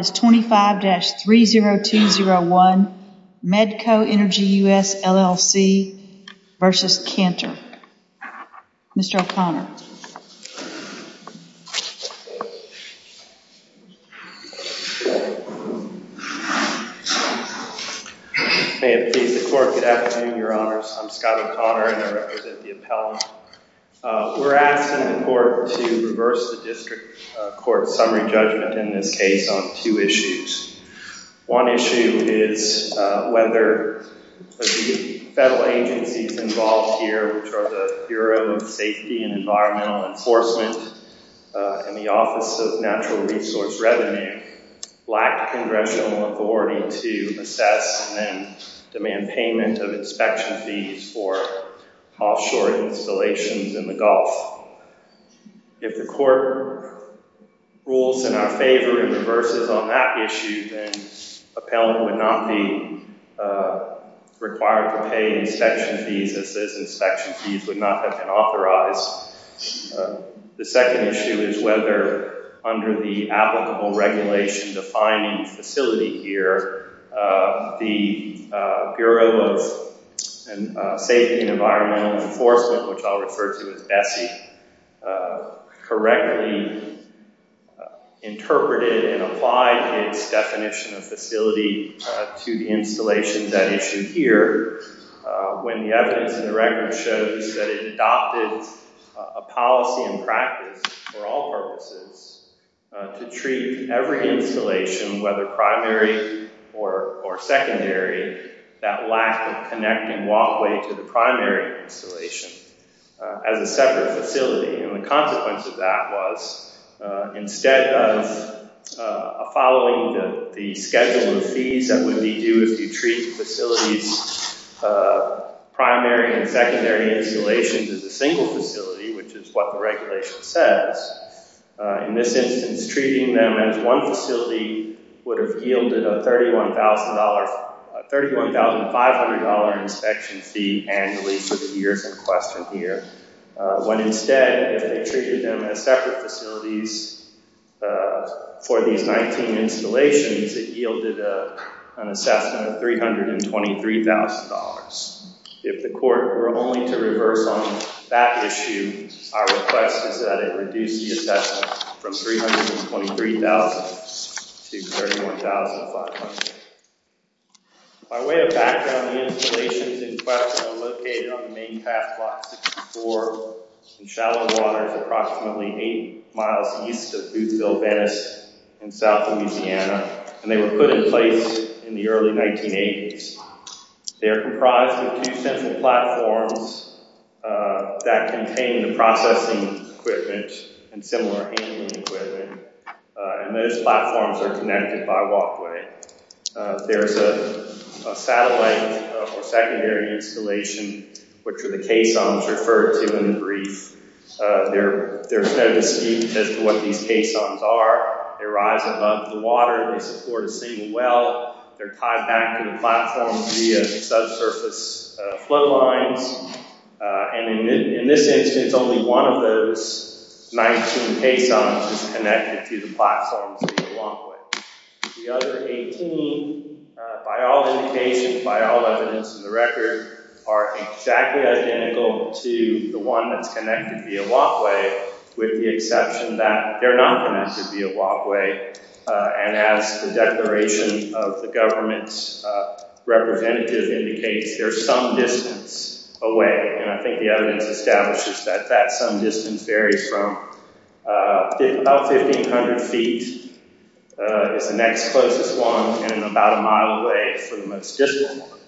is 25-30201 Medco Energi U.S. LLC v. Cantor. Mr. O'Connor. May it please the Court, good afternoon, Your Honors. I'm Scott O'Connor and I represent the appellant. We're asking the Court to reverse the District Court's summary judgment in this case on two issues. One issue is whether the federal agencies involved here, which are the Bureau of Safety and Environmental Enforcement and the Office of Natural Resource Revenue, lack congressional authority to assess and demand payment of inspection fees for offshore installations in the Gulf. If the Court rules in our favor and reverses on that issue, then appellant would not be required to pay inspection fees as those inspection fees would not have been authorized. The second issue is whether under the applicable regulation defining facility here, the Bureau of Safety and Environmental Enforcement, which I'll refer to as BSEE, correctly interpreted and applied its definition of facility to the installation that issue here when the evidence in the record shows that it adopted a policy and practice for all purposes to treat every installation, whether primary or secondary, that lack of connecting walkway to the primary installation as a separate facility. And the consequence of that was instead of following the schedule of fees that would be due if you treat facilities primary and secondary installations as a single facility, which is what the regulation says, in this instance treating them as one facility would have yielded a $31,500 inspection fee annually for the years in question here, when instead if they treated them as separate facilities for these 19 installations, it yielded an assessment of $323,000. If the court were only to reverse on that issue, our request is that it reduce the assessment from $323,000 to $31,500. By way of background, the installations in question are located on the main path block 64 in shallow waters approximately 8 miles east of Boothville, Venice in south Louisiana, and they were put in place in the early 1980s. They're comprised of two central platforms that contain the processing equipment and similar handling equipment, and those platforms are connected by walkway. There's a satellite or secondary installation, which are the caissons referred to in the brief. There's no dispute as to what these caissons are. They rise above the water, they support a single well, they're tied back to the platform via subsurface flow lines, and in this instance only one of those 19 caissons is connected to the platforms via walkway. The other 18, by all indications, by all evidence in the record, are exactly identical to the one that's connected via walkway, with the exception that they're not connected via walkway, and as the declaration of the government's representative indicates, they're some distance away, and I think the evidence establishes that that some distance varies from about 1,500 feet is the next closest one, and about a mile away is the most distant one.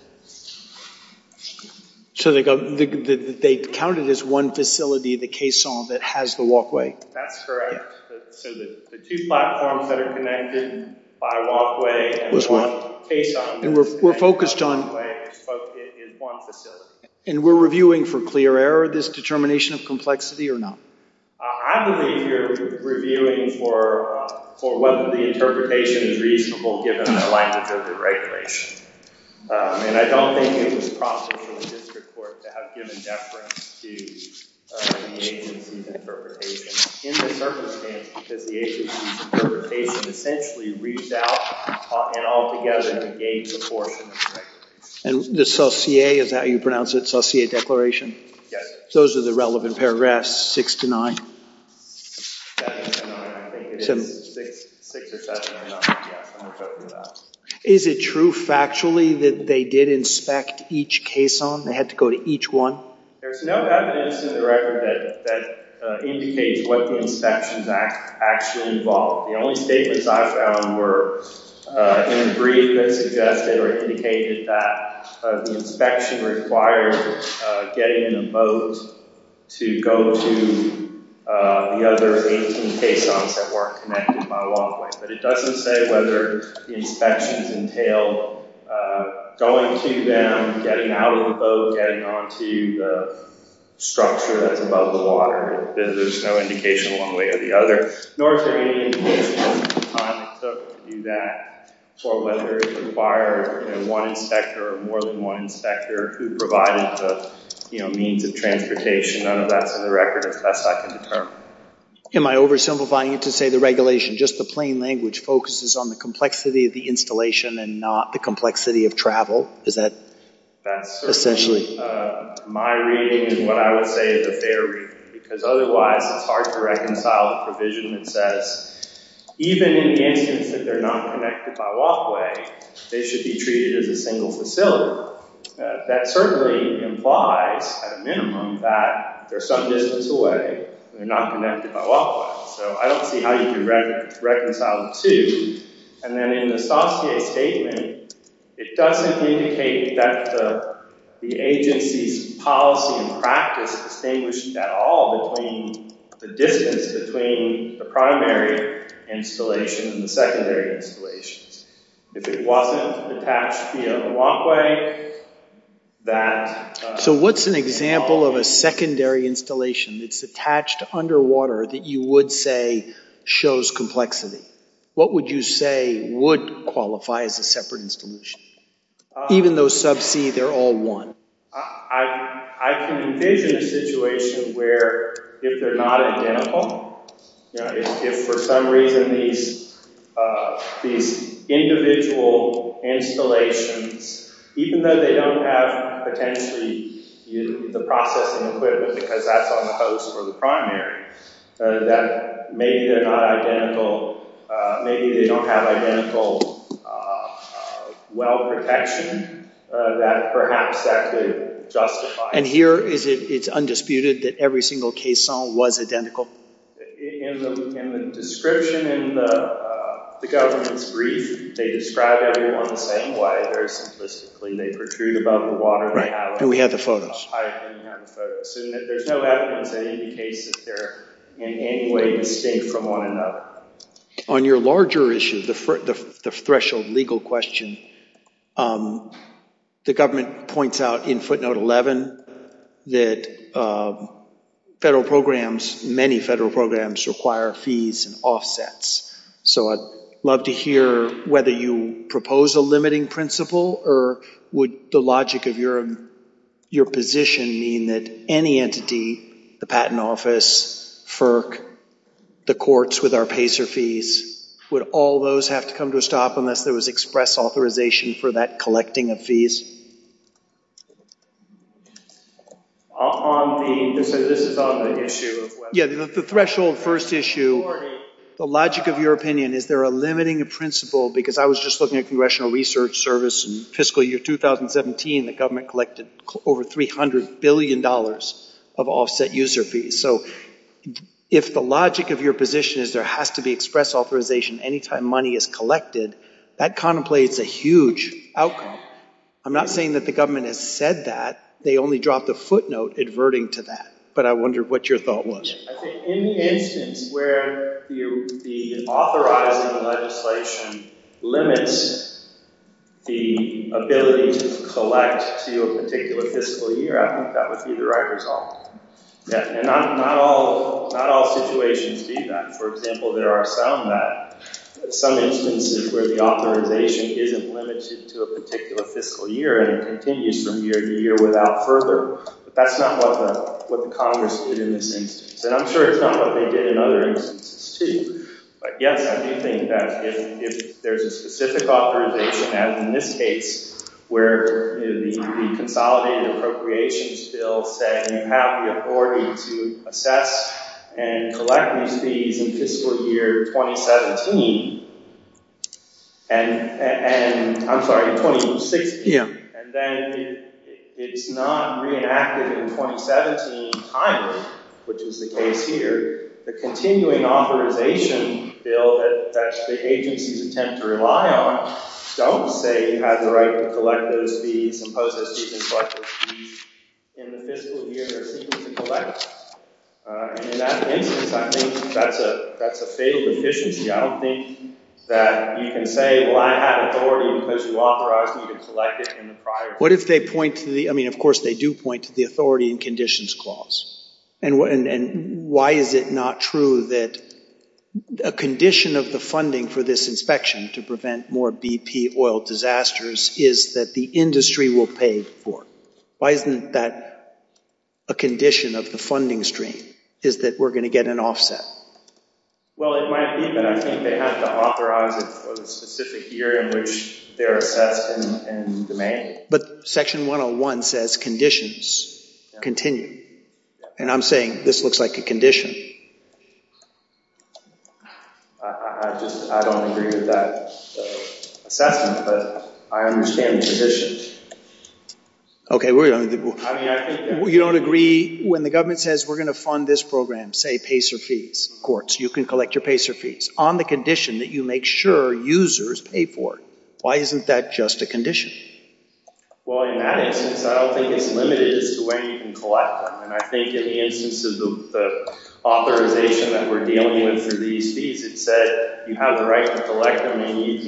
So they counted as one facility, the caisson, that has the walkway? That's correct. So the two platforms that are connected by walkway and one caisson is connected by walkway in one facility. And we're reviewing for clear error this determination of complexity or not? I believe you're reviewing for whether the interpretation is reasonable given the language of the regulation, and I don't think it was prompted for the district court to have given deference to the agency's interpretation in this circumstance, because the agency's interpretation essentially reached out and all together gave the portion of the regulation. And the CELCIEA, is that how you pronounce it, CELCIEA declaration? Yes. Those are the relevant paragraphs, six to nine? Seven or nine, I think. It is six or seven or nine. Yes, I'm referring to that. Is it true factually that they did inspect each caisson? They had to go to each one? There's no evidence in the record that indicates what the inspections actually involved. The only statements I found were in a brief that suggested or indicated that the inspection required getting in a boat to go to the other 18 caissons that weren't connected by walkway. But it doesn't say whether the inspections entailed going to them, getting out of the boat, getting onto the structure that's above the water. There's no indication one way or the other. Nor is there any indication of the time it took to do that or whether it required one inspector or more than one inspector who provided the means of transportation. None of that's in the record, as best I can determine. Am I oversimplifying it to say the regulation, just the plain language, focuses on the complexity of the installation and not the complexity of travel? Is that essentially? My reading is what I would say is a fair reading. Because otherwise, it's hard to reconcile the provision that says, even in the instance that they're not connected by walkway, they should be treated as a single facility. That certainly implies, at a minimum, that they're some distance away and they're not connected by walkway. So I don't see how you can reconcile the two. And then in the Saussure statement, it doesn't indicate that the agency's policy and practice distinguish at all between the distance between the primary installation and the secondary installations. If it wasn't attached via walkway, that... So what's an example of a secondary installation that's attached underwater that you would say shows complexity? What would you say would qualify as a separate installation? Even though sub C, they're all one. I can envision a situation where, if they're not identical, if for some reason these individual installations, even though they don't have potentially the processing equipment because that's on the host or the primary, that maybe they're not identical, maybe they don't have identical well protection, that perhaps that could justify... And here, it's undisputed that every single caisson was identical? In the description in the government's brief, they describe everyone the same way. Very simplistically, they protrude above the water. And we have the photos. There's no evidence that indicates that they're in any way distinct from one another. On your larger issue, the threshold legal question, the government points out in footnote 11 that federal programs, many federal programs require fees and offsets. So I'd love to hear whether you propose a limiting principle or would the logic of your position mean that any entity, the patent office, FERC, the courts with our PACER fees, would all those have to come to a stop unless there was express authorization for that collecting of fees? This is on the issue of whether... Yeah, the threshold first issue, the logic of your opinion, is there a limiting principle? Because I was just looking at Congressional Research Service in fiscal year 2017. The government collected over $300 billion of offset user fees. So if the logic of your position is there has to be express authorization any time money is collected, that contemplates a huge outcome. I'm not saying that the government has said that. They only dropped a footnote adverting to that. But I wonder what your thought was. I think any instance where the authorizing legislation limits the ability to collect to a particular fiscal year, I think that would be the right result. And not all situations need that. For example, there are some instances where the authorization isn't limited to a particular fiscal year and it continues from year to year without further. But that's not what the Congress did in this instance. And I'm sure it's not what they did in other instances too. But yes, I do think that if there's a specific authorization, as in this case, where the Consolidated Appropriations Bill said you have the authority to assess and collect these fees in fiscal year 2017, and I'm sorry, in 2016, and then it's not reenacted in 2017 timely, which is the case here, the Continuing Authorization Bill that the agencies attempt to rely on don't say you have the right to collect those fees, impose those fees, and collect those fees in the fiscal year they're seeking to collect. And in that instance, I think that's a fatal deficiency. I don't think that you can say, well, I have authority because you authorized me to collect it in the prior year. What if they point to the—I mean, of course they do point to the Authority in Conditions Clause. And why is it not true that a condition of the funding for this inspection to prevent more BP oil disasters is that the industry will pay for it? Why isn't that a condition of the funding stream, is that we're going to get an offset? Well, it might be, but I think they have to authorize it for the specific year in which they're assessed and domain. But Section 101 says conditions continue. And I'm saying this looks like a condition. I just—I don't agree with that assessment, but I understand the conditions. Okay, you don't agree when the government says we're going to fund this program, say PACER fees. Of course, you can collect your PACER fees on the condition that you make sure users pay for it. Why isn't that just a condition? Well, in that instance, I don't think it's limited as to when you can collect them. And I think in the instance of the authorization that we're dealing with for these fees, it said you have the right to collect them in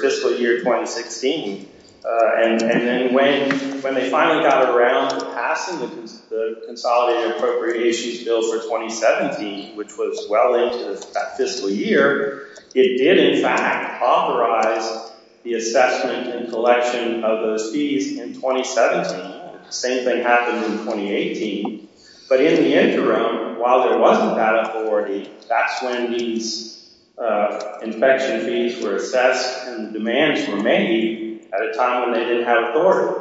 fiscal year 2016. And then when they finally got around to passing the Consolidated Appropriations Bill for 2017, which was well into that fiscal year, it did, in fact, authorize the assessment and collection of those fees in 2017. The same thing happened in 2018. But in the interim, while there wasn't that authority, that's when these inspection fees were assessed and demands were made at a time when they didn't have authority.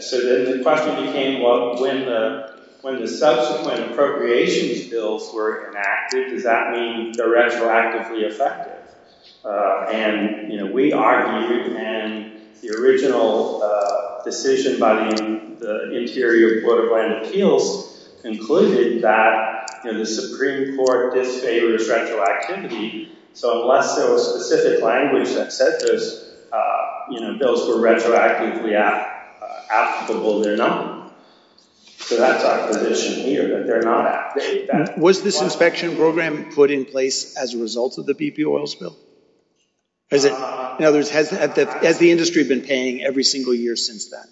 So then the question became, well, when the subsequent appropriations bills were enacted, does that mean they're retroactively effective? And we argued, and the original decision by the Interior Board of Land Appeals concluded that the Supreme Court disfavors retroactivity. So unless there was specific language that said those bills were retroactively applicable, they're not. So that's our position here, that they're not. Was this inspection program put in place as a result of the BP oil spill? In other words, has the industry been paying every single year since then?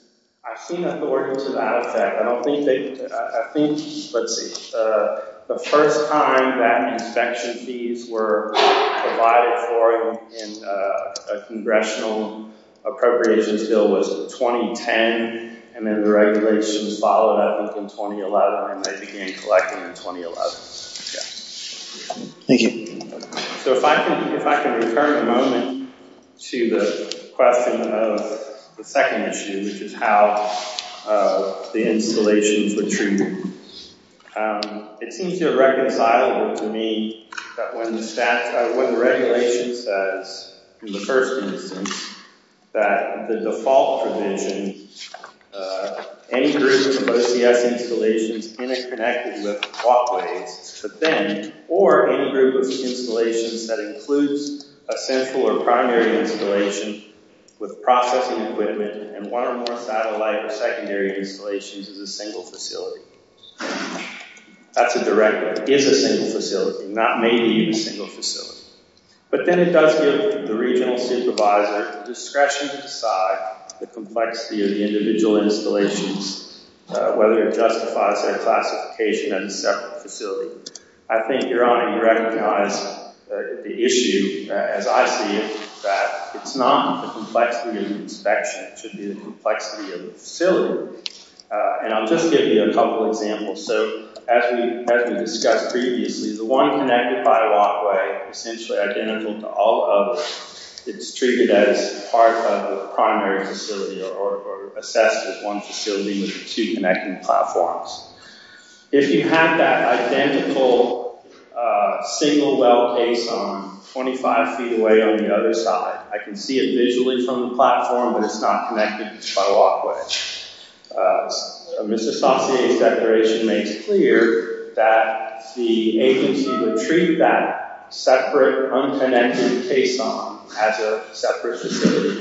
I've seen authority to that effect. I don't think they – I think – let's see. The first time that inspection fees were provided for in a congressional appropriations bill was in 2010, and then the regulations followed up in 2011, and they began collecting in 2011. Thank you. So if I can return a moment to the question of the second issue, which is how the installations were treated. It seems irreconcilable to me that when the regulation says in the first instance that the default provision, any group of OCS installations interconnected with walkways, but then – or any group of installations that includes a central or primary installation with processing equipment and one or more satellite or secondary installations as a single facility. That's a direct – is a single facility, not maybe a single facility. But then it does give the regional supervisor the discretion to decide the complexity of the individual installations, whether it justifies their classification as a separate facility. I think Your Honor, you recognize the issue, as I see it, that it's not the complexity of the inspection. It should be the complexity of the facility. And I'll just give you a couple examples. So as we discussed previously, the one connected by a walkway, essentially identical to all others, it's treated as part of the primary facility or assessed as one facility with the two connecting platforms. If you have that identical single well case on 25 feet away on the other side, I can see it visually from the platform, but it's not connected by a walkway. A misassociated declaration makes clear that the agency would treat that separate, unconnected case on as a separate facility.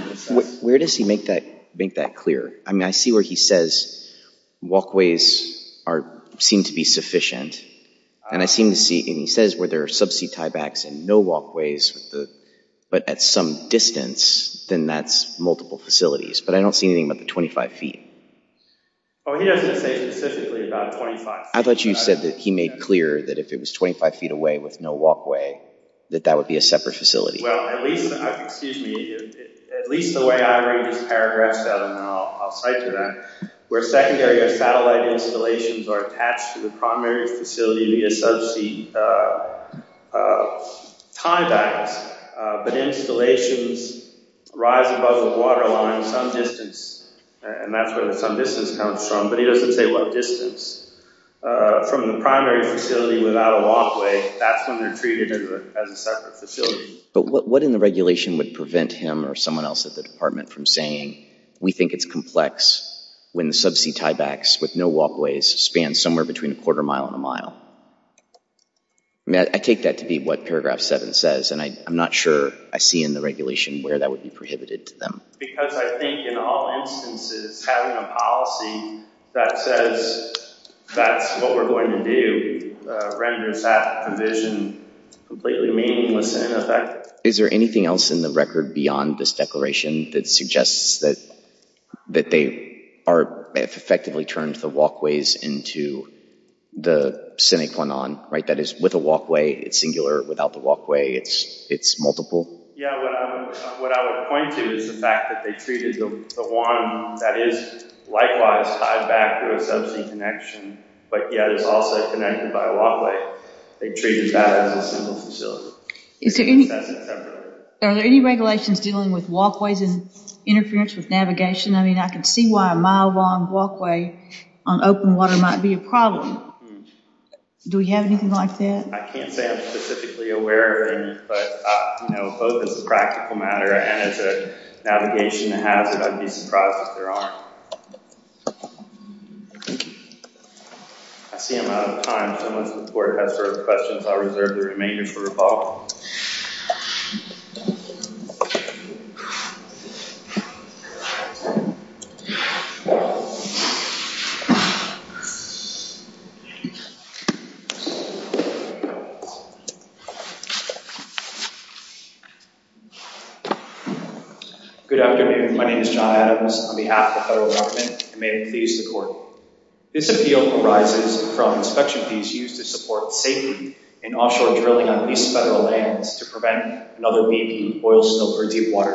Where does he make that clear? I mean, I see where he says walkways are – seem to be sufficient. And I seem to see – and he says where there are subsea tiebacks and no walkways, but at some distance, then that's multiple facilities. But I don't see anything about the 25 feet. Oh, he doesn't say specifically about 25 feet. I thought you said that he made clear that if it was 25 feet away with no walkway, that that would be a separate facility. Well, at least – excuse me. At least the way I read his paragraphs out, and I'll cite to that, where secondary or satellite installations are attached to the primary facility via subsea tiebacks, but installations rise above the waterline some distance, and that's where the some distance comes from, but he doesn't say what distance. From the primary facility without a walkway, that's when they're treated as a separate facility. But what in the regulation would prevent him or someone else at the department from saying, we think it's complex when the subsea tiebacks with no walkways span somewhere between a quarter mile and a mile? I mean, I take that to be what paragraph 7 says, and I'm not sure I see in the regulation where that would be prohibited to them. Because I think in all instances, having a policy that says that's what we're going to do renders that provision completely meaningless and ineffective. Is there anything else in the record beyond this declaration that suggests that they are – that they've effectively turned the walkways into the sine qua non, right? That is, with a walkway, it's singular, without the walkway, it's multiple? Yeah, what I would point to is the fact that they treated the one that is likewise tied back to a subsea connection, but yet is also connected by a walkway. They treated that as a single facility. Are there any regulations dealing with walkways and interference with navigation? I mean, I can see why a mile-long walkway on open water might be a problem. Do we have anything like that? I can't say I'm specifically aware of any, but, you know, both as a practical matter and as a navigation hazard, I'd be surprised if there aren't. I see I'm out of time, so unless the Board has further questions, I'll reserve the remainder for rebuttal. Thank you. Good afternoon. My name is John Adams. On behalf of the federal government, I may please the Court. This appeal arises from inspection fees used to support safety in offshore drilling on least federal lands to prevent another BP, oil spill, or deep water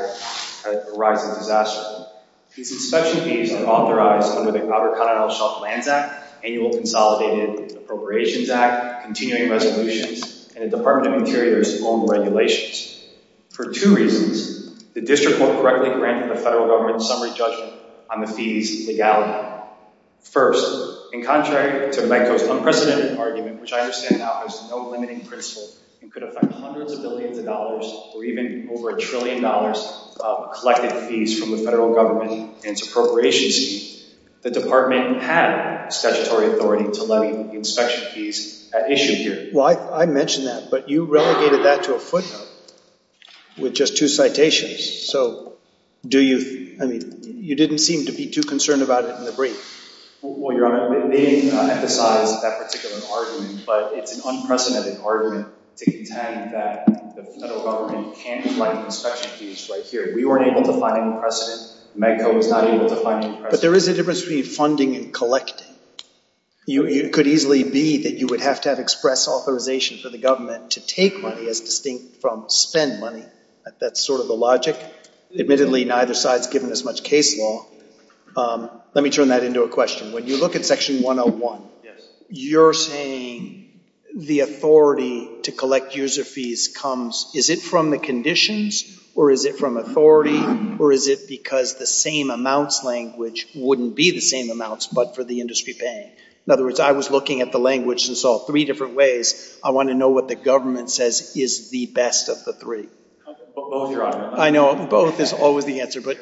that could arise in a disaster. These inspection fees are authorized under the Outer Continental Shelf Lands Act, Annual Consolidated Appropriations Act, Continuing Resolutions, and the Department of Interior's own regulations. For two reasons, the district won't correctly grant the federal government's summary judgment on the fees' legality. First, in contrary to my co-sponsor's unprecedented argument, which I understand now has no limiting principle and could affect hundreds of billions of dollars or even over a trillion dollars of collected fees from the federal government and its appropriations team, the department had statutory authority to levy inspection fees at issue here. Well, I mentioned that, but you relegated that to a footnote with just two citations, so do you, I mean, you didn't seem to be too concerned about it in the brief. Well, Your Honor, they emphasized that particular argument, but it's an unprecedented argument to contend that the federal government can't collect inspection fees right here. We weren't able to find any precedent. Medco was not able to find any precedent. But there is a difference between funding and collecting. It could easily be that you would have to have express authorization for the government to take money, as distinct from spend money. That's sort of the logic. Admittedly, neither side's given as much case law. Let me turn that into a question. When you look at Section 101, you're saying the authority to collect user fees comes, is it from the conditions, or is it from authority, or is it because the same amounts language wouldn't be the same amounts but for the industry paying? In other words, I was looking at the language and saw three different ways. I want to know what the government says is the best of the three. Both, Your Honor. I know, both is always the answer. But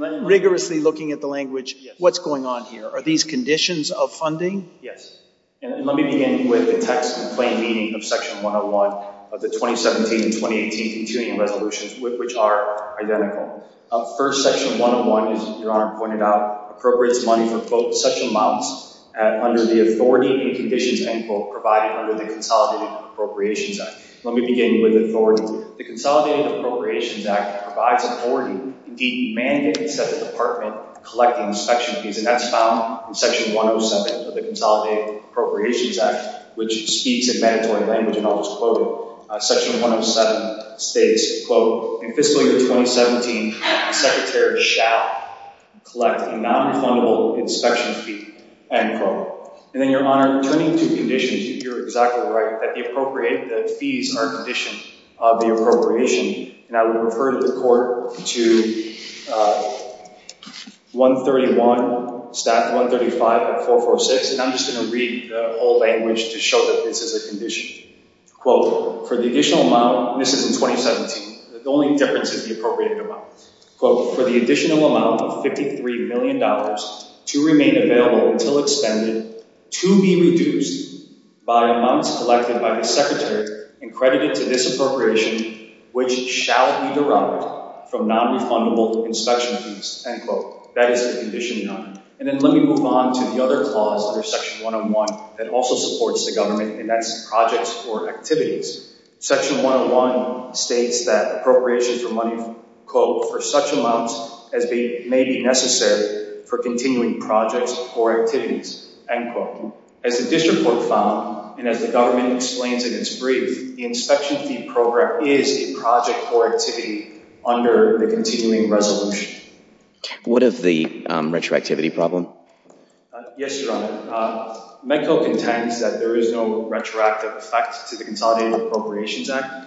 rigorously looking at the language, what's going on here? Are these conditions of funding? And let me begin with the text and plain meaning of Section 101 of the 2017 and 2018 continuing resolutions, which are identical. First, Section 101, as Your Honor pointed out, appropriates money for, quote, such amounts under the authority and conditions, end quote, provided under the Consolidated Appropriations Act. Let me begin with authority. Quote, the Consolidated Appropriations Act provides authority, indeed mandates that the department collect the inspection fees, and that's found in Section 107 of the Consolidated Appropriations Act, which speaks in mandatory language, and I'll just quote it. Section 107 states, quote, in fiscal year 2017, the Secretary shall collect a non-refundable inspection fee, end quote. And then, Your Honor, turning to conditions, you're exactly right, that the fees are a condition of the appropriation, and I will refer the Court to 131, Staff 135 and 446, and I'm just going to read the whole language to show that this is a condition. Quote, for the additional amount, and this is in 2017, the only difference is the appropriated amount. Quote, for the additional amount of $53 million to remain available until expended to be reduced by amounts collected by the Secretary and credited to this appropriation, which shall be derived from non-refundable inspection fees, end quote. That is the condition, Your Honor. And then let me move on to the other clause under Section 101 that also supports the government, and that's projects or activities. Section 101 states that appropriations for money, quote, for such amounts as may be necessary for continuing projects or activities, end quote. As the District Court found, and as the government explains in its brief, the inspection fee program is a project or activity under the continuing resolution. What of the retroactivity problem? Yes, Your Honor. Medco contends that there is no retroactive effect to the Consolidated Appropriations Act.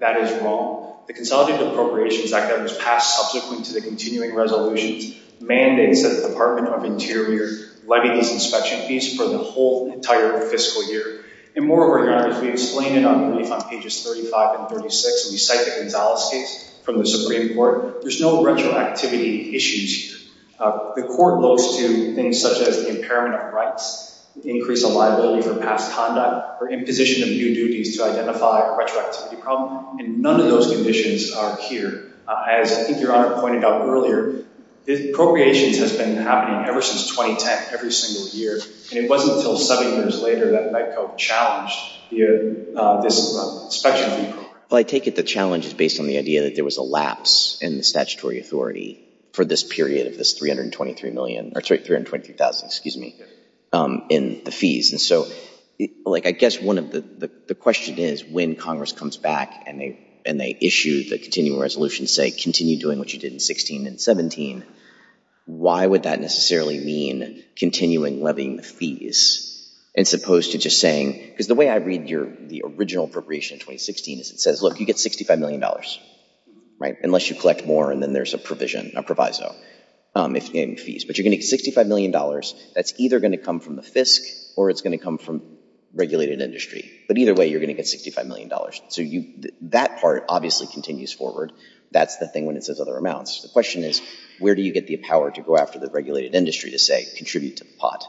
That is wrong. The Consolidated Appropriations Act that was passed subsequent to the continuing resolutions mandates that the Department of Interior levy these inspection fees for the whole entire fiscal year. And moreover, Your Honor, as we explain in our brief on pages 35 and 36, when we cite the Gonzales case from the Supreme Court, there's no retroactivity issues here. The court goes to things such as the impairment of rights, increase of liability for past conduct, or imposition of new duties to identify a retroactivity problem. And none of those conditions are here. As I think Your Honor pointed out earlier, appropriations has been happening ever since 2010, every single year, and it wasn't until seven years later that Medco challenged this inspection fee program. Well, I take it the challenge is based on the idea that there was a lapse in the statutory authority for this period of this $323,000 in the fees. And so I guess the question is when Congress comes back and they issue the continuing resolutions, say continue doing what you did in 16 and 17, why would that necessarily mean continuing levying the fees as opposed to just saying, because the way I read the original appropriation in 2016 is it says, look, you get $65 million, right, unless you collect more and then there's a provision, a proviso in fees. But you're going to get $65 million. That's either going to come from the FISC or it's going to come from regulated industry. But either way, you're going to get $65 million. So that part obviously continues forward. That's the thing when it says other amounts. The question is where do you get the power to go after the regulated industry to say contribute to the pot?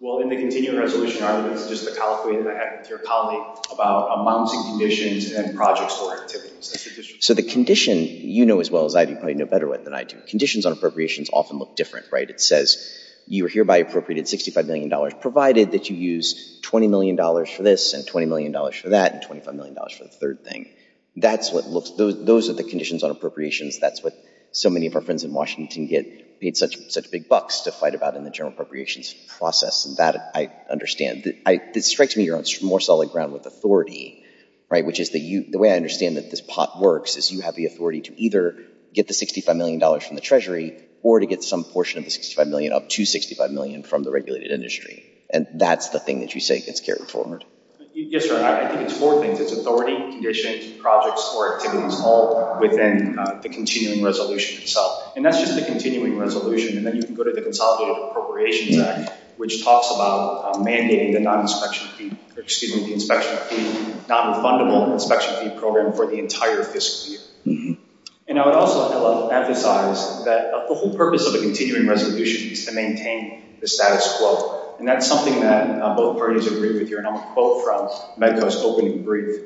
Well, in the continuing resolution argument, it's just a colloquy that I had with your colleague about amounts and conditions and projects or activities. So the condition, you know as well as I do, probably know better than I do. Conditions on appropriations often look different, right? It says you are hereby appropriated $65 million provided that you use $20 million for this and $20 million for that and $25 million for the third thing. Those are the conditions on appropriations. That's what so many of our friends in Washington get paid such big bucks to fight about in the general appropriations process. And that I understand. It strikes me you're on more solid ground with authority, right, which is the way I understand that this pot works is you have the authority to either get the $65 million from the Treasury or to get some portion of the $65 million up to $65 million from the regulated industry. And that's the thing that you say gets carried forward. Yes, sir. I think it's four things. It's authority, conditions, projects, or activities all within the continuing resolution itself. And that's just the continuing resolution. And then you can go to the Consolidated Appropriations Act, which talks about mandating the non-refundable inspection fee program for the entire fiscal year. And I would also emphasize that the whole purpose of a continuing resolution is to maintain the status quo. And that's something that both parties agree with here. And I'll quote from MEDCO's opening brief.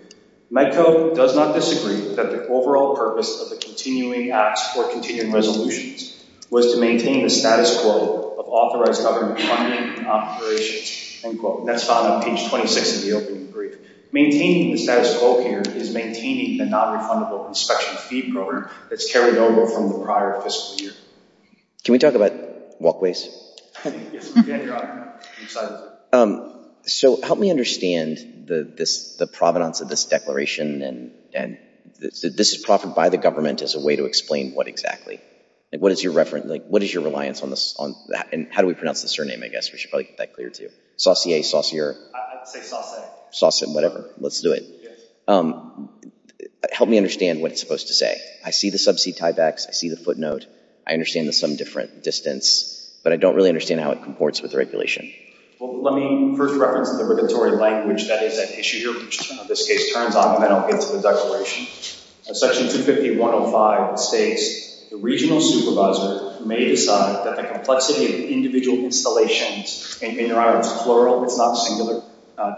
MEDCO does not disagree that the overall purpose of the continuing act for continuing resolutions was to maintain the status quo of authorized government funding operations, end quote. And that's found on page 26 of the opening brief. Maintaining the status quo here is maintaining the non-refundable inspection fee program that's carried over from the prior fiscal year. Can we talk about walkways? Yes, I'm excited. So help me understand the provenance of this declaration and this is proffered by the government as a way to explain what exactly? What is your reliance on this? And how do we pronounce the surname, I guess? We should probably get that clear to you. Saucier? Saucier? I'd say Saucer. Saucer, whatever. Let's do it. Help me understand what it's supposed to say. I see the sub-C type X. I see the footnote. I understand there's some different distance. But I don't really understand how it comports with the regulation. Well, let me first reference the regulatory language that is at issue here, which in this case turns on and then I'll get to the declaration. Section 250.105 states, the regional supervisor may decide that the complexity of individual installations, and in their honor it's plural, it's not singular,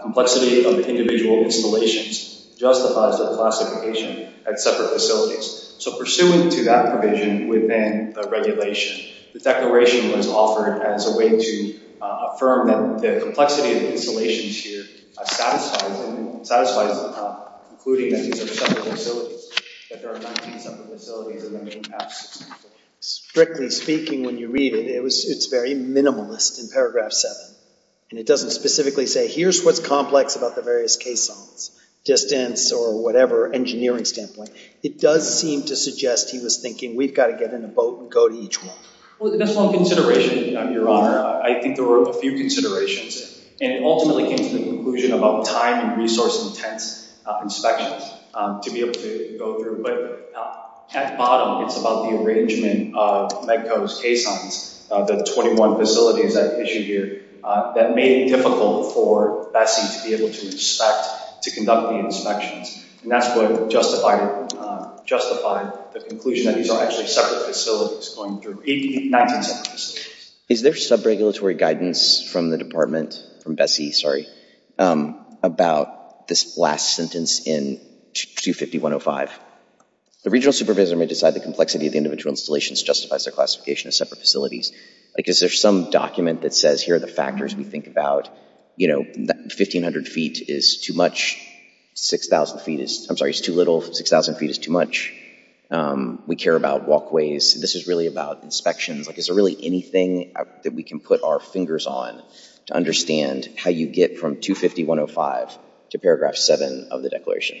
complexity of individual installations justifies their classification at separate facilities. So pursuant to that provision within the regulation, the declaration was offered as a way to affirm that the complexity of the installations here satisfies them, including that these are separate facilities, that there are 19 separate facilities in the main path system. Strictly speaking, when you read it, it's very minimalist in paragraph 7. And it doesn't specifically say, here's what's complex about the various caissons, distance or whatever, engineering standpoint. It does seem to suggest he was thinking, we've got to get in a boat and go to each one. Well, that's one consideration, your honor. I think there were a few considerations. And it ultimately came to the conclusion about time and resource intense inspections to be able to go through. But at the bottom, it's about the arrangement of MEDCO's caissons, the 21 facilities at issue here, that made it difficult for BSEE to be able to inspect, to conduct the inspections. And that's what justified the conclusion that these are actually separate facilities going through, 19 separate facilities. Is there sub-regulatory guidance from the department, from BSEE, sorry, about this last sentence in 250.105? The regional supervisor may decide the complexity of the individual installations justifies their classification as separate facilities. Is there some document that says, here are the factors we think about. 1,500 feet is too much. 6,000 feet is, I'm sorry, is too little. 6,000 feet is too much. We care about walkways. This is really about inspections. Is there really anything that we can put our fingers on to understand how you get from 250.105 to paragraph 7 of the declaration?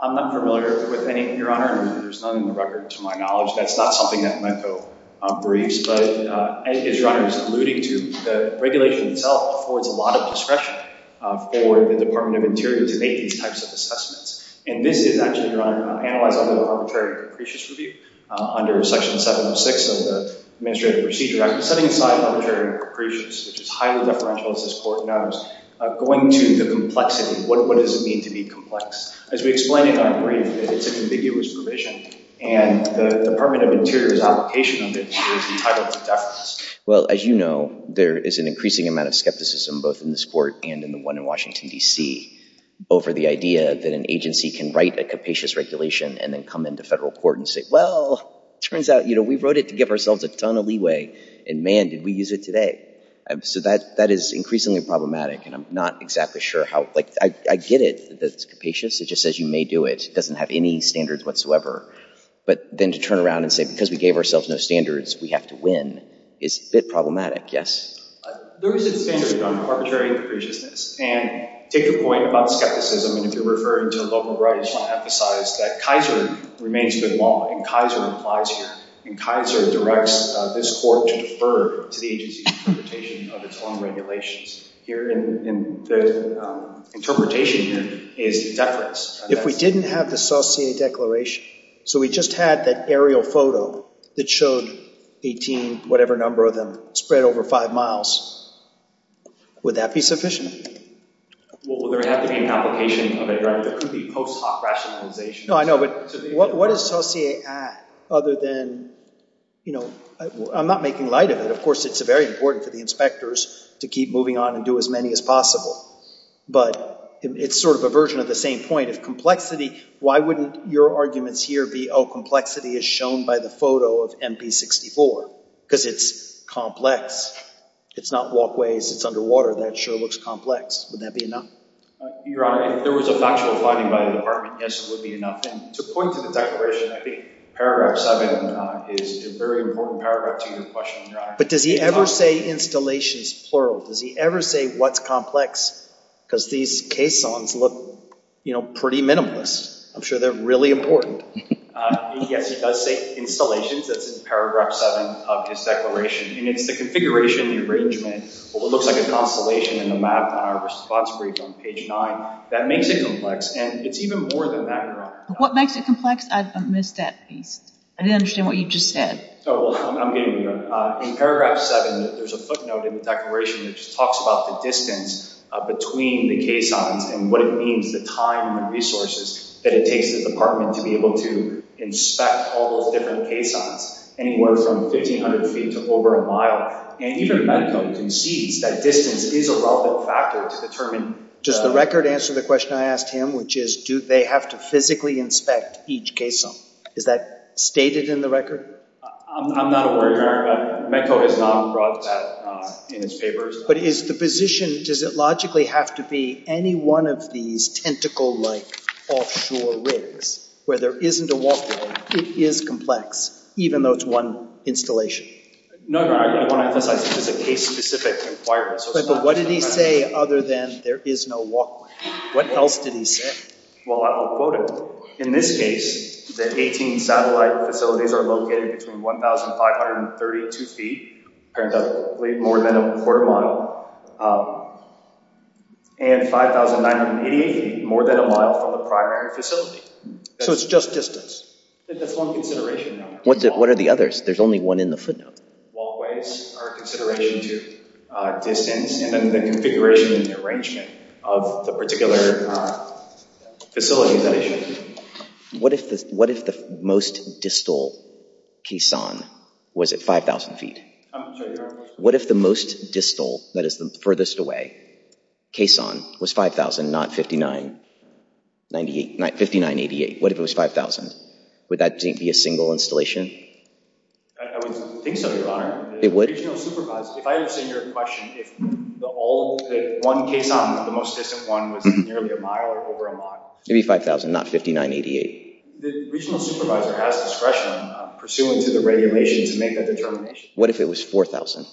I'm not familiar with any, your honor. There's none in the record to my knowledge. That's not something that my co-briefs. But as your honor is alluding to, the regulation itself affords a lot of discretion for the Department of Interior to make these types of assessments. And this is actually, your honor, analyzed under the Arbitrary and Capricious Review under Section 706 of the Administrative Procedure Act. Setting aside arbitrary and capricious, which is highly deferential, as this court knows, going to the complexity. What does it mean to be complex? As we explained in our brief, it's an ambiguous provision. And the Department of Interior's application of it should be titled for deference. Well, as you know, there is an increasing amount of skepticism, both in this court and in the one in Washington, D.C., over the idea that an agency can write a capacious regulation and then come into federal court and say, well, turns out, you know, we wrote it to give ourselves a ton of leeway. And man, did we use it today. So that is increasingly problematic. And I'm not exactly sure how, like, I get it, that it's capacious. It just says you may do it. It doesn't have any standards whatsoever. But then to turn around and say, because we gave ourselves no standards, we have to win, is a bit problematic. Yes? There is a standard on arbitrary and capriciousness. And take the point about skepticism. And if you're referring to local right, I just want to emphasize that Kaiser remains good law. And Kaiser applies here. And Kaiser directs this court to defer to the agency's interpretation of its own regulations. Here in the interpretation here is deference. If we didn't have the Saucier Declaration, so we just had that aerial photo that showed 18, whatever number of them, spread over five miles, would that be sufficient? Well, there would have to be an application of it, right? There could be post hoc rationalization. No, I know. But what does Saucier add other than, you know, I'm not making light of it. Of course, it's very important for the inspectors to keep moving on and do as many as possible. But it's sort of a version of the same point. If complexity, why wouldn't your arguments here be, oh, complexity is shown by the photo of MP64? Because it's complex. It's not walkways. It's underwater. That sure looks complex. Would that be enough? Your Honor, if there was a factual finding by the department, yes, it would be enough. And to point to the declaration, I think paragraph 7 is a very important paragraph to your question, Your Honor. But does he ever say installations, plural? Does he ever say what's complex? Because these caissons look, you know, pretty minimalist. I'm sure they're really important. Yes, he does say installations. That's in paragraph 7 of his declaration. And it's the configuration, the arrangement, what looks like a constellation in the map on our response brief on page 9 that makes it complex. And it's even more than that, Your Honor. What makes it complex? I missed that piece. I didn't understand what you just said. Oh, well, I'm getting there. In paragraph 7, there's a footnote in the declaration that just talks about the distance between the caissons and what it means, the time and resources that it takes the department to be able to inspect all those different caissons, anywhere from 1,500 feet to over a mile. And even Medco concedes that distance is a relevant factor to determine. Does the record answer the question I asked him, which is do they have to physically inspect each caisson? Is that stated in the record? I'm not aware, Your Honor. Medco has not brought that in its papers. But is the position, does it logically have to be any one of these tentacle-like offshore rigs where there isn't a walkway? It is complex, even though it's one installation. No, Your Honor, I didn't want to emphasize it was a case-specific requirement. But what did he say other than there is no walkway? What else did he say? Well, I will quote him. In this case, the 18 satellite facilities are located between 1,532 feet, more than a quarter mile, and 5,988 feet, more than a mile from the primary facility. So it's just distance? That's one consideration, Your Honor. What are the others? There's only one in the footnote. Walkways are a consideration, too. Distance, and then the configuration and the arrangement of the particular facility. What if the most distal caisson was at 5,000 feet? I'm sorry, Your Honor? What if the most distal, that is the furthest away, caisson was 5,000, not 5,988? What if it was 5,000? Would that be a single installation? I would think so, Your Honor. It would? If I understand your question, if one caisson, the most distant one, was nearly a mile or over a mile? It would be 5,000, not 5,988. The regional supervisor has discretion pursuant to the regulations to make that determination. What if it was 4,000?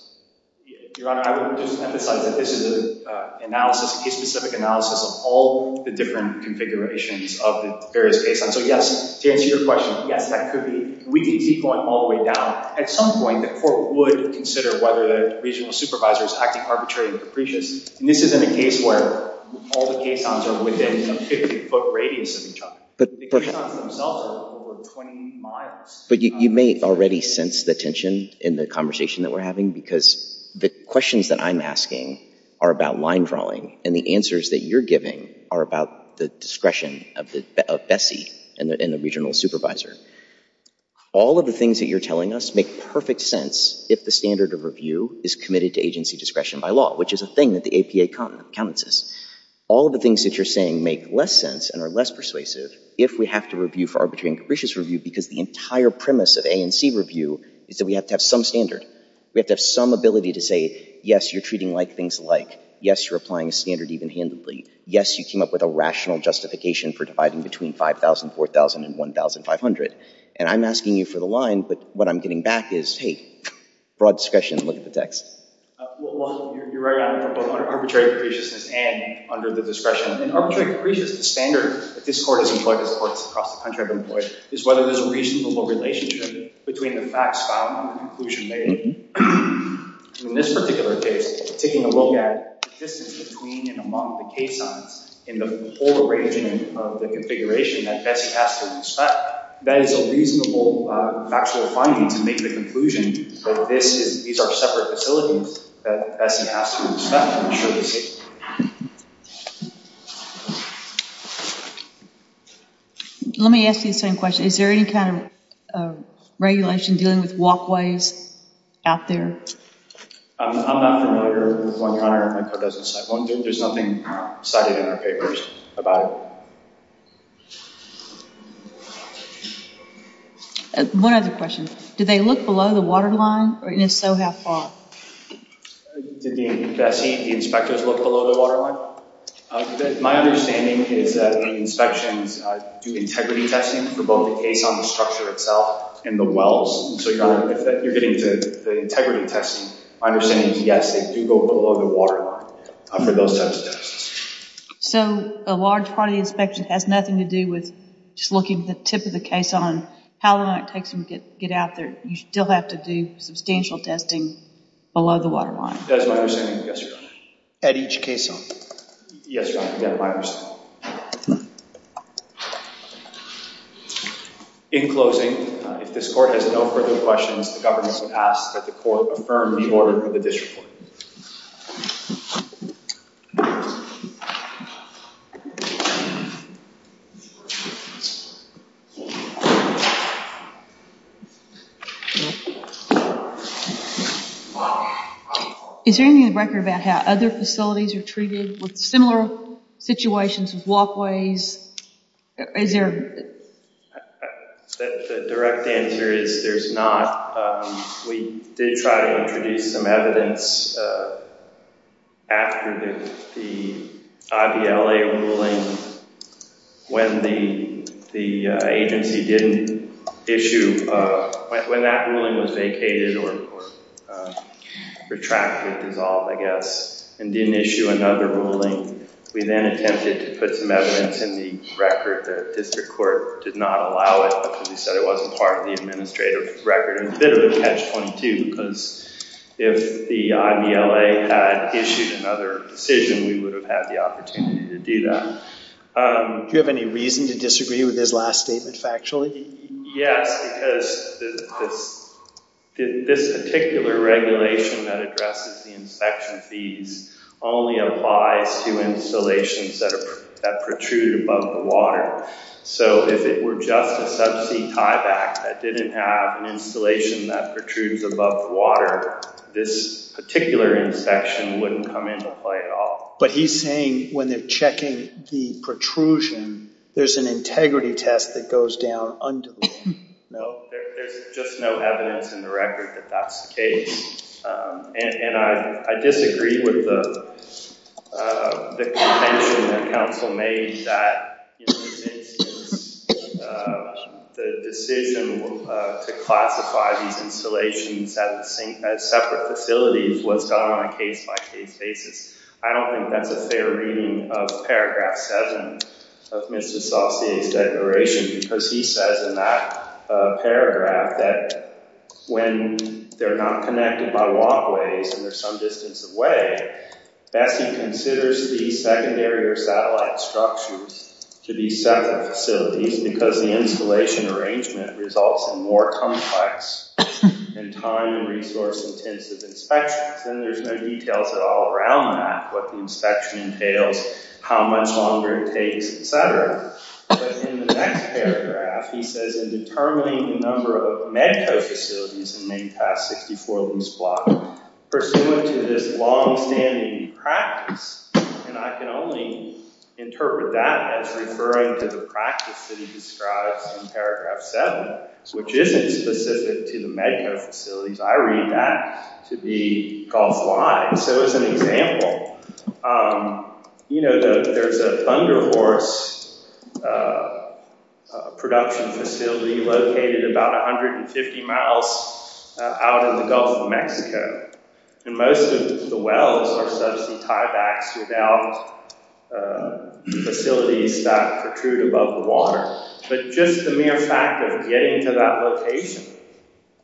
Your Honor, I would just emphasize that this is a case-specific analysis of all the different configurations of the various caissons. So yes, to answer your question, yes, that could be. We could see going all the way down. At some point, the court would consider whether the regional supervisor is acting arbitrarily or capricious. And this isn't a case where all the caissons are within a 50-foot radius of each other. The caissons themselves are over 20 miles. But you may already sense the tension in the conversation that we're having, because the questions that I'm asking are about line drawing, and the answers that you're giving are about the discretion of Bessie and the regional supervisor. All of the things that you're telling us make perfect sense if the standard of review is committed to agency discretion by law, which is a thing that the APA counts as. All of the things that you're saying make less sense and are less persuasive if we have to review for arbitrary and capricious review, because the entire premise of A and C review is that we have to have some standard. We have to have some ability to say, yes, you're treating like things alike. Yes, you're applying a standard even-handedly. Yes, you came up with a rational justification for dividing between 5,000, 4,000, and 1,500. And I'm asking you for the line, but what I'm getting back is, hey, broad discretion. Look at the text. Well, you're right on, both under arbitrary capriciousness and under the discretion. In arbitrary capriciousness, the standard that this court has employed, as courts across the country have employed, is whether there's a reasonable relationship between the facts found and the conclusion made. In this particular case, taking a look at the distance between and among the K signs in the polar region of the configuration that Bessie has to respect, that is a reasonable factual finding to make the conclusion that these are separate facilities that Bessie has to respect and ensure the safety. Let me ask you the same question. Is there any kind of regulation dealing with walkways out there? I'm not familiar with one, Your Honor. My code doesn't cite one. There's nothing cited in our papers about it. One other question. Do they look below the waterline, and if so, how far? Did Bessie and the inspectors look below the waterline? My understanding is that the inspections do integrity testing for both the case on the structure itself and the wells. And so, Your Honor, if you're getting to the integrity testing, my understanding is, yes, they do go below the waterline for those types of tests. So, a large part of the inspection has nothing to do with just looking at the tip of the caisson, how long it takes them to get out there. You still have to do substantial testing below the waterline. That is my understanding, yes, Your Honor. At each caisson? Yes, Your Honor, that is my understanding. In closing, if this Court has no further questions, the governance would ask that the Court affirm the order for the disreport. Is there anything in the record about how other facilities are treated with similar situations with walkways? The direct answer is there's not. We did try to introduce some evidence after the IVLA ruling, when the agency didn't issue, when that ruling was vacated or retracted, dissolved, I guess, and didn't issue another ruling. We then attempted to put some evidence in the record. The District Court did not allow it because we said it wasn't part of the administrative record. It's a bit of a catch-22 because if the IVLA had issued another decision, we would have had the opportunity to do that. Do you have any reason to disagree with his last statement factually? Yes, because this particular regulation that addresses the inspection fees only applies to installations that protrude above the water. So if it were just a subsea tieback that didn't have an installation that protrudes above the water, this particular inspection wouldn't come into play at all. But he's saying when they're checking the protrusion, there's an integrity test that goes down under the water. No, there's just no evidence in the record that that's the case. And I disagree with the contention that Council made that the decision to classify these installations as separate facilities was done on a case-by-case basis. I don't think that's a fair reading of paragraph 7 of Mr. Saucier's declaration because he says in that paragraph that when they're not connected by walkways and they're some distance away, Bessie considers the secondary or satellite structures to be separate facilities because the installation arrangement results in more complex and time- and resource-intensive inspections. And there's no details at all around that, what the inspection entails, how much longer it takes, etc. But in the next paragraph, he says in determining the number of MEDCO facilities in Maine Pass 64 Lease Block, pursuant to this long-standing practice, and I can only interpret that as referring to the practice that he describes in paragraph 7, which isn't specific to the MEDCO facilities. I read that to be golf-wide. So as an example, there's a Thunder Horse production facility located about 150 miles out in the Gulf of Mexico, and most of the wells are subsea tiebacks without facilities that protrude above the water. But just the mere fact of getting to that location,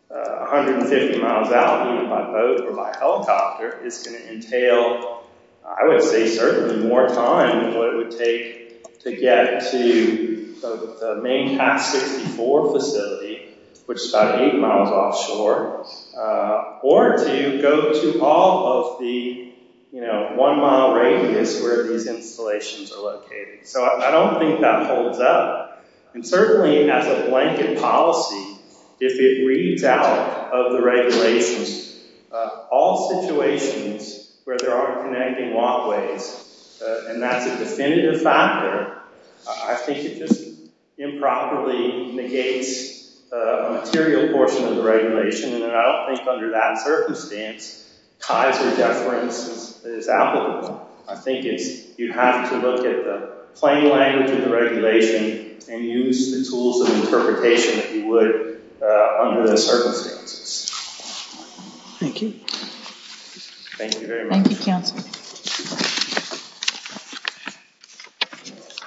150 miles out, by boat or by helicopter, is going to entail, I would say, certainly more time than what it would take to get to the Maine Pass 64 facility, which is about eight miles offshore, or to go to all of the one-mile radius where these installations are located. So I don't think that holds up. And certainly as a blanket policy, if it reads out of the regulations, all situations where there are connecting walkways, and that's a definitive factor, I think it just improperly negates a material portion of the regulation, and I don't think under that circumstance, Kaiser deference is applicable. I think you have to look at the plain language of the regulation and use the tools of interpretation that you would under those circumstances. Thank you. Thank you very much. Thank you, Councillor.